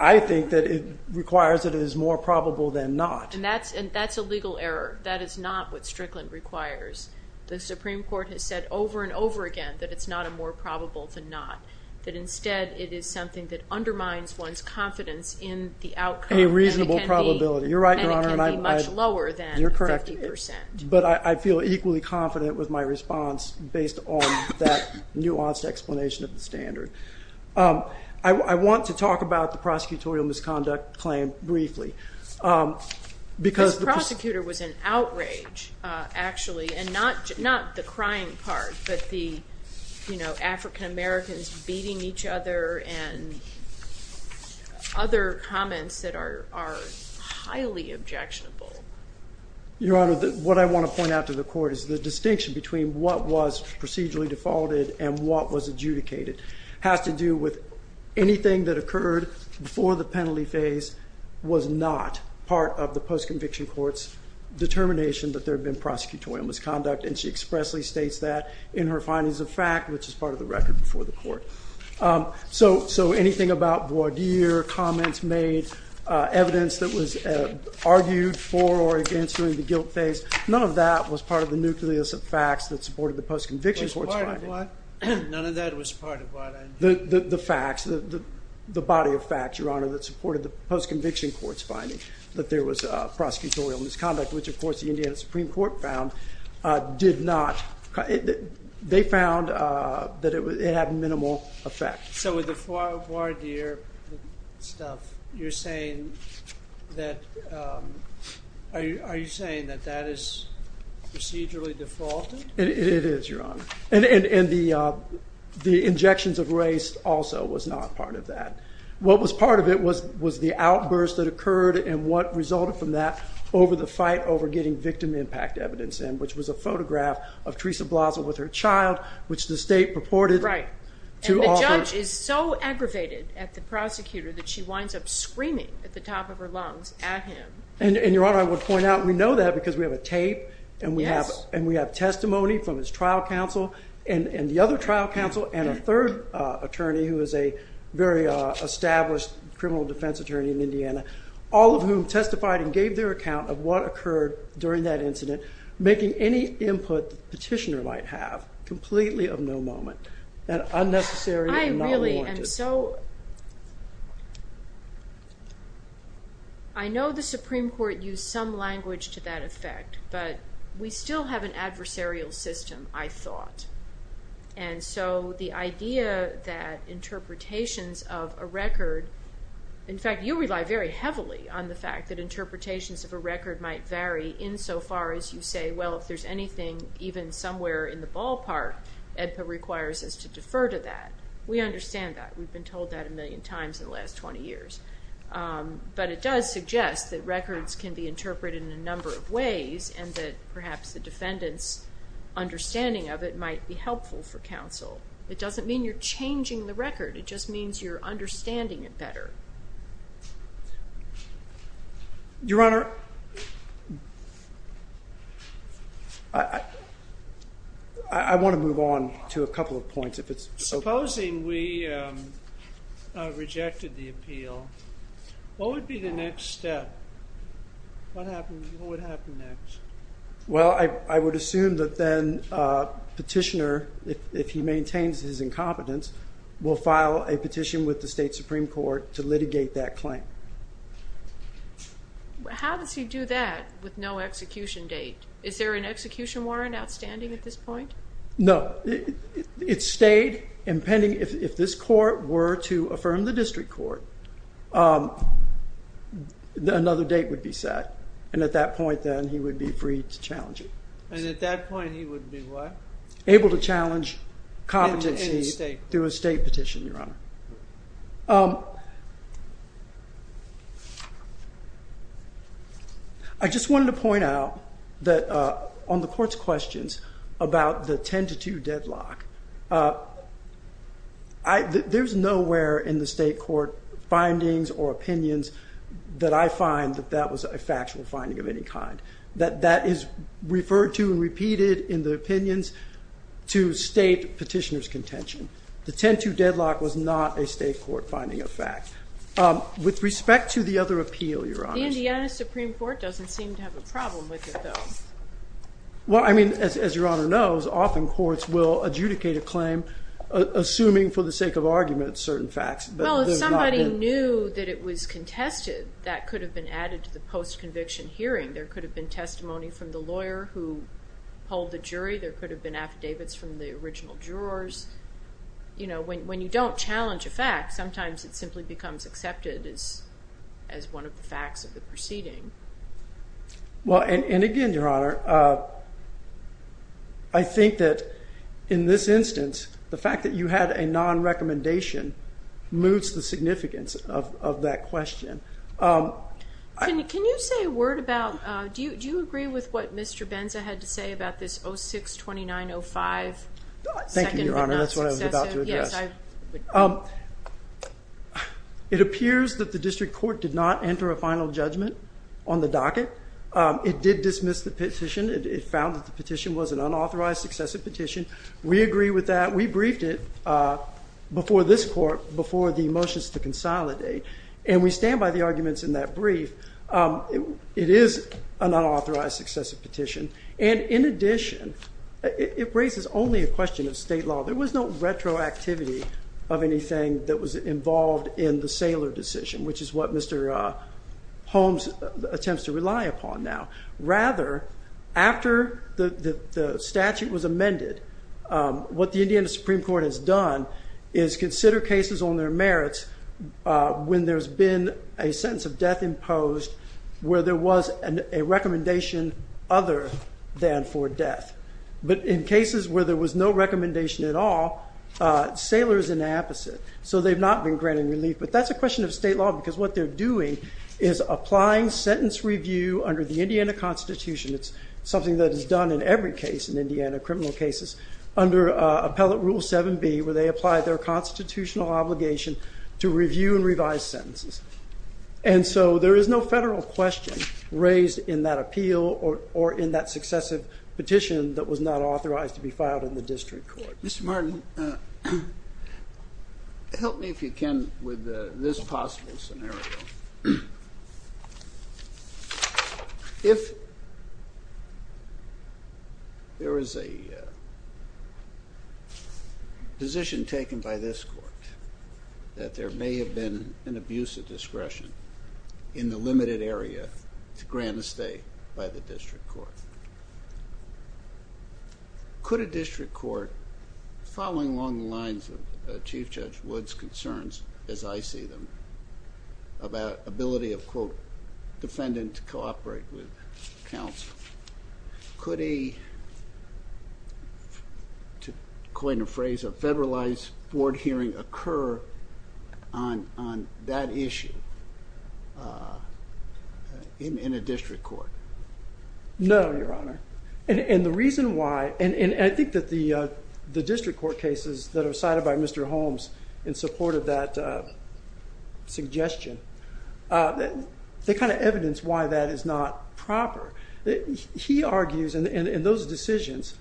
I think that it requires that it is more probable than not. And that's a legal error. That is not what Strickland requires. The Supreme Court has said over and over again that it's not a more probable than not. That instead it is something that undermines one's confidence in the outcome. A reasonable probability. You're right, Your Honor. And it can be much lower than 50%. You're correct. But I feel equally confident with my response based on that nuanced explanation of the standard. I want to talk about the prosecutorial misconduct claim briefly This prosecutor was in outrage actually, and not the crying part, but the African-Americans beating each other and other comments that are highly objectionable. Your Honor, what I want to point out to the court is the distinction between what was procedurally defaulted and what was adjudicated has to do with anything that occurred before the penalty phase was not part of the post-conviction court's determination that there had been prosecutorial misconduct. And she expressly states that in her findings of fact, which is part of the record before the court. So anything about voir dire, comments made, evidence that was argued for or against during the guilt phase, none of that was part of the nucleus of facts that supported the post-conviction court's finding. None of that was part of what? The facts. The body of facts, Your Honor, that supported the post-conviction court's finding that there was prosecutorial misconduct, which of course the Indiana Supreme Court found did not. They found that it had minimal effect. So with the voir dire stuff, you're saying that are you saying that that is procedurally defaulted? It is, Your Honor. And the injections of race also was not part of that. What was part of it was the outburst that occurred and what resulted from that over the fight over getting victim impact evidence in, which was a photograph of Teresa Blossom with her child, which the state purported to offer. And the judge is so aggravated at the prosecutor that she winds up screaming at the top of her lungs at him. And Your Honor, I would point out, we know that because we have a tape and we have testimony from his trial counsel and the other trial counsel and a third attorney who is a very established criminal defense attorney in Indiana, all of whom testified and gave their account of what occurred during that incident making any input the petitioner might have completely of no moment that unnecessary and not warranted. I really am so I know the Supreme Court used some language to that effect, but we still have an incident. And so the idea that interpretations of a record, in fact you rely very heavily on the fact that interpretations of a record might vary in so far as you say well if there's anything even somewhere in the ballpark EDPA requires us to defer to that. We understand that. We've been told that a million times in the last 20 years. But it does suggest that records can be interpreted in a number of ways and that perhaps the defendant's understanding of it might be helpful for counsel. It doesn't mean you're changing the record, it just means you're understanding it better. Your Honor, I want to move on to a couple of points. Supposing we rejected the appeal, what would be the next step? What would happen next? Well, I would assume that then petitioner if he maintains his incompetence, will file a petition with the state Supreme Court to litigate that claim. How does he do that with no execution date? Is there an execution warrant outstanding at this point? No. It stayed impending if this court were to affirm the district court another date would be set. And at that point then he would be free to challenge it. And at that point he would be what? Able to challenge competency through a state petition, Your Honor. I just wanted to point out that on the court's questions about the 10-2 deadlock, there's nowhere in the state court findings or opinions that I find that that was a factual finding of any kind. That is referred to and repeated in the opinions to state petitioner's contention. The 10-2 deadlock was not a state court finding of fact. With respect to the other appeal, Your Honor. The Indiana Supreme Court doesn't seem to have a problem with it, though. Well, I mean, as Your Honor knows, often courts will adjudicate a claim assuming for the sake of argument certain facts. Well, if somebody knew that it was contested, that could have been added to the post-conviction hearing. There could have been testimony from the lawyer who pulled the jury. There could have been affidavits from the original jurors. You know, when you don't challenge a fact, sometimes it simply becomes accepted as one of the facts of the proceeding. Well, and again, Your Honor, I think that in this instance, the fact that you had a non-recommendation moves the significance of that question. Can you say a word about, do you agree with what Mr. Benza had to say about this 06-2905 second but not successive? Thank you, Your Honor. That's what I was about to address. It appears that the district court did not enter a final judgment on the docket. It did dismiss the petition. It found that the petition was an unauthorized successive petition. We agree with that. We briefed it before this court, before the motions to consolidate. And we stand by the arguments in that brief. It is an unauthorized successive petition. And in addition, it raises only a question of state law. There was no retroactivity of anything that was involved in the Saylor decision, which is what Mr. Holmes attempts to rely upon now. Rather, after the Indiana Supreme Court has done, is consider cases on their merits when there's been a sentence of death imposed where there was a recommendation other than for death. But in cases where there was no recommendation at all, Saylor is an opposite. So they've not been granted relief. But that's a question of state law because what they're doing is applying sentence review under the Indiana Constitution. It's something that is done in every case in Indiana, criminal cases, under Appellate Rule 7B, where they apply their constitutional obligation to review and revise sentences. And so there is no federal question raised in that appeal or in that successive petition that was not authorized to be filed in the district court. Mr. Martin, help me if you can with this possible scenario. If there is a position taken by this court that there may have been an abuse of discretion in the limited area to grant a stay by the district court, could a district court following along the lines of Chief Judge Wood's concerns as I see them, about ability of defendant to cooperate with counsel, could a federalized board hearing occur on that issue in a district court? No, Your Honor. And the reason why, and I think that the district court cases that are cited by Mr. Holmes in support of that suggestion, they kind of evidence why that is not proper. He argues, and those decisions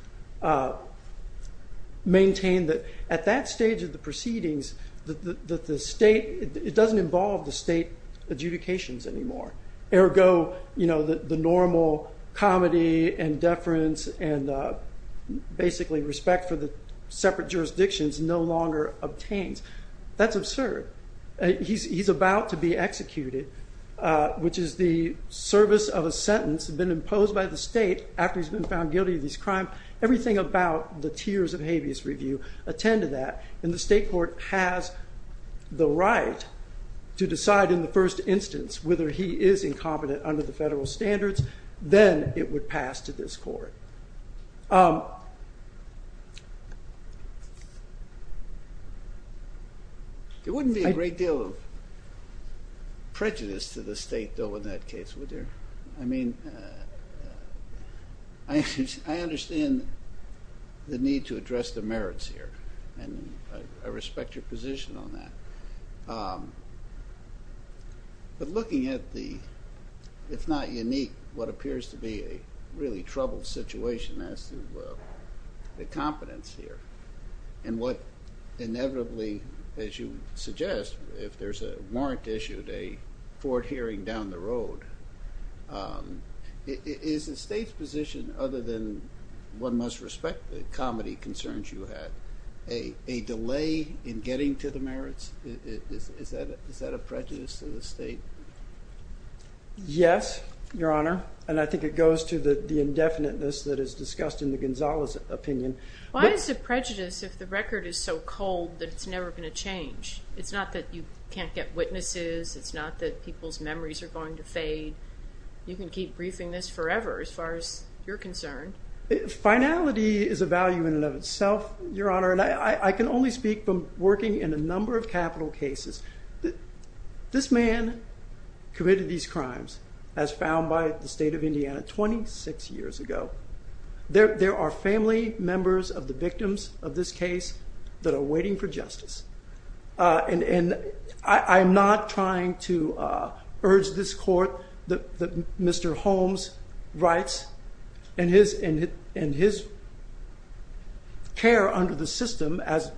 maintain that at that stage of the proceedings, it doesn't involve the state adjudications anymore. Ergo, the normal comedy and deference and basically respect for the separate jurisdictions no longer obtains. That's absurd. He's about to be executed, which is the service of a sentence been imposed by the state after he's been found guilty of these crimes. Everything about the tiers of habeas review attended that, and the state court has the right to decide in the first instance whether he is incompetent under the federal standards, then it would pass to this court. There wouldn't be a great deal of prejudice to the state, though, in that case, would there? I understand the need to address the merits here, and I respect your position on that. But looking at the if not unique, what appears to be a really troubled situation as to the competence here and what inevitably, as you suggest, if there's a warrant issued, a court hearing down the road, is the state's position, other than one must respect the comedy concerns you had, a delay in getting to the merits? Is that a prejudice to the state? Yes, Your Honor, and I think it goes to the indefiniteness that is discussed in the Gonzales opinion. Why is it prejudice if the record is so cold that it's never going to change? It's not that you can't get witnesses, it's not that people's memories are going to fade. You can keep briefing this forever as far as you're concerned. Finality is a value in and of itself, Your Honor, and I can only speak from working in a number of capital cases. This man committed these crimes as found by the state of Indiana 26 years ago. There are family members of the victims of this case that are waiting for justice, and I'm not trying to urge this court that Mr. Holmes' rights and his care under the system, as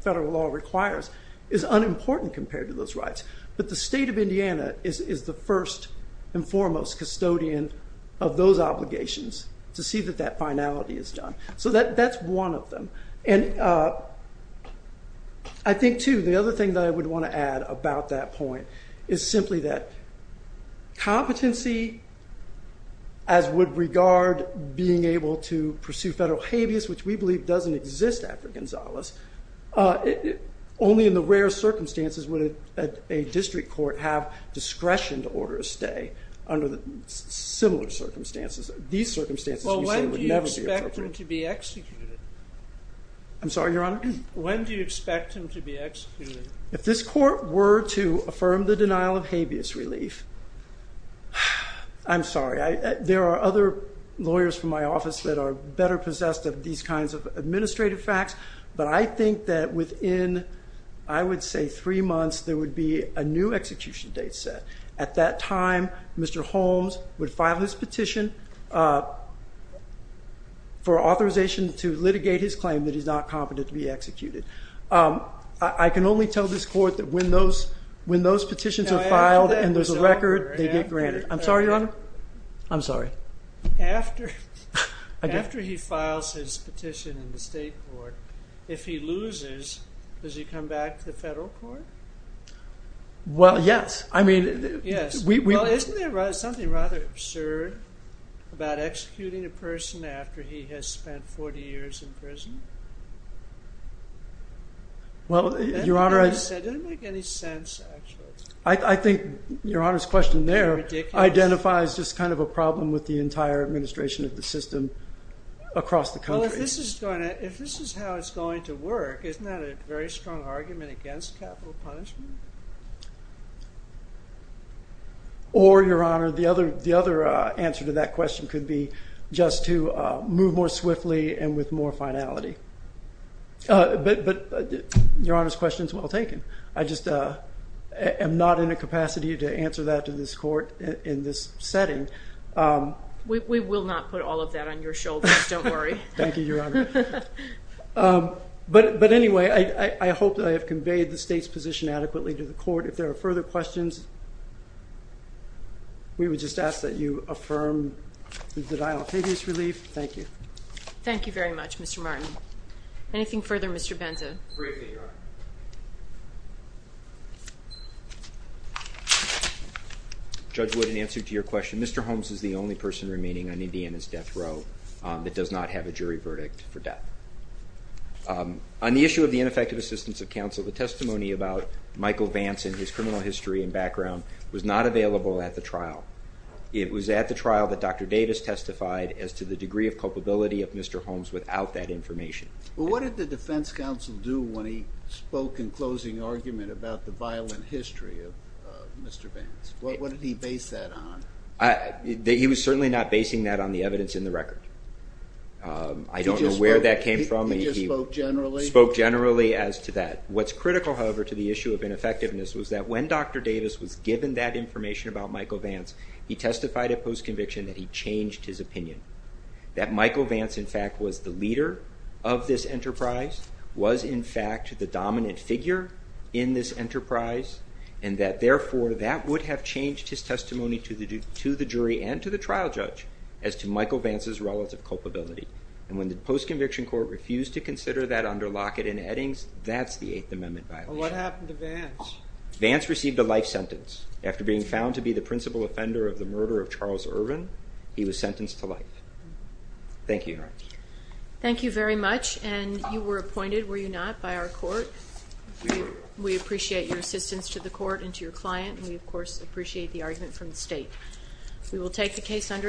federal law requires, is unimportant compared to those rights, but the state of Indiana is the first and foremost custodian of those obligations to see that that finality is done. So that's one of them, and I think, too, the other thing that I would want to add about that point is simply that competency, as would regard being able to pursue federal habeas, which we believe doesn't exist after Gonzales, only in the rare circumstances would a district court have discretion to order stay under similar circumstances. These circumstances you say would never be appropriate. Well, when do you expect him to be executed? I'm sorry, Your Honor? When do you expect him to be executed? If this court were to affirm the denial of habeas relief, I'm sorry. There are other lawyers from my office that are better possessed of these kinds of administrative facts, but I think that within, I would say, three months, there would be a new time Mr. Holmes would file his petition for authorization to litigate his claim that he's not competent to be executed. I can only tell this court that when those petitions are filed and there's a record, they get granted. I'm sorry, Your Honor? I'm sorry. After he files his petition in the state court, if he loses, does he come back to the federal court? Well, yes. Well, isn't there something rather absurd about executing a person after he has spent 40 years in prison? That didn't make any sense, actually. I think Your Honor's question there identifies just kind of a problem with the entire administration of the system across the country. Well, if this is how it's going to work, isn't that a very strong argument against capital punishment? Or, Your Honor, the other answer to that question could be just to move more swiftly and with more finality. But Your Honor's question is well taken. I just am not in a capacity to answer that to this court in this setting. We will not put all of that on your shoulders, don't worry. Thank you, Your Honor. But anyway, I hope that I have conveyed the state's position adequately to the court. If there are further questions, we would just ask that you affirm the denial of habeas relief. Thank you. Thank you very much, Mr. Martin. Anything further, Mr. Benza? Briefing, Your Honor. Judge Wood, in answer to your question, Mr. Holmes is the only person remaining on Indiana's death row that does not have a jury verdict for death. On the issue of the ineffective assistance of counsel, the testimony about Michael Vance and his criminal history and background was not available at the trial. It was at the trial that Dr. Davis testified as to the degree of culpability of Mr. Holmes without that information. What did the defense counsel do when he spoke in closing argument about the violent history of Mr. Vance? What did he base that on? He was certainly not basing that on the evidence in the record. I don't know where that came from. He just spoke generally? He spoke generally as to that. What's critical, however, to the issue of ineffectiveness was that when Dr. Davis was given that information about Michael Vance, he testified at post-conviction that he changed his opinion. That Michael Vance, in fact, was the leader of this enterprise, was in fact the dominant figure in this enterprise, and that therefore that would have changed his testimony to the jury and to the trial judge as to Michael Vance's relative culpability. And when the post-conviction court refused to consider that under Lockett and Eddings, that's the Eighth Amendment violation. What happened to Vance? Vance received a life sentence. After being found to be the principal offender of the murder of Charles Irvin, he was sentenced to life. Thank you. Thank you very much, and you were appointed, were you not, by our court? We appreciate your assistance to the court and to your client, and we of course appreciate the argument from the state. We will take the case under advisement.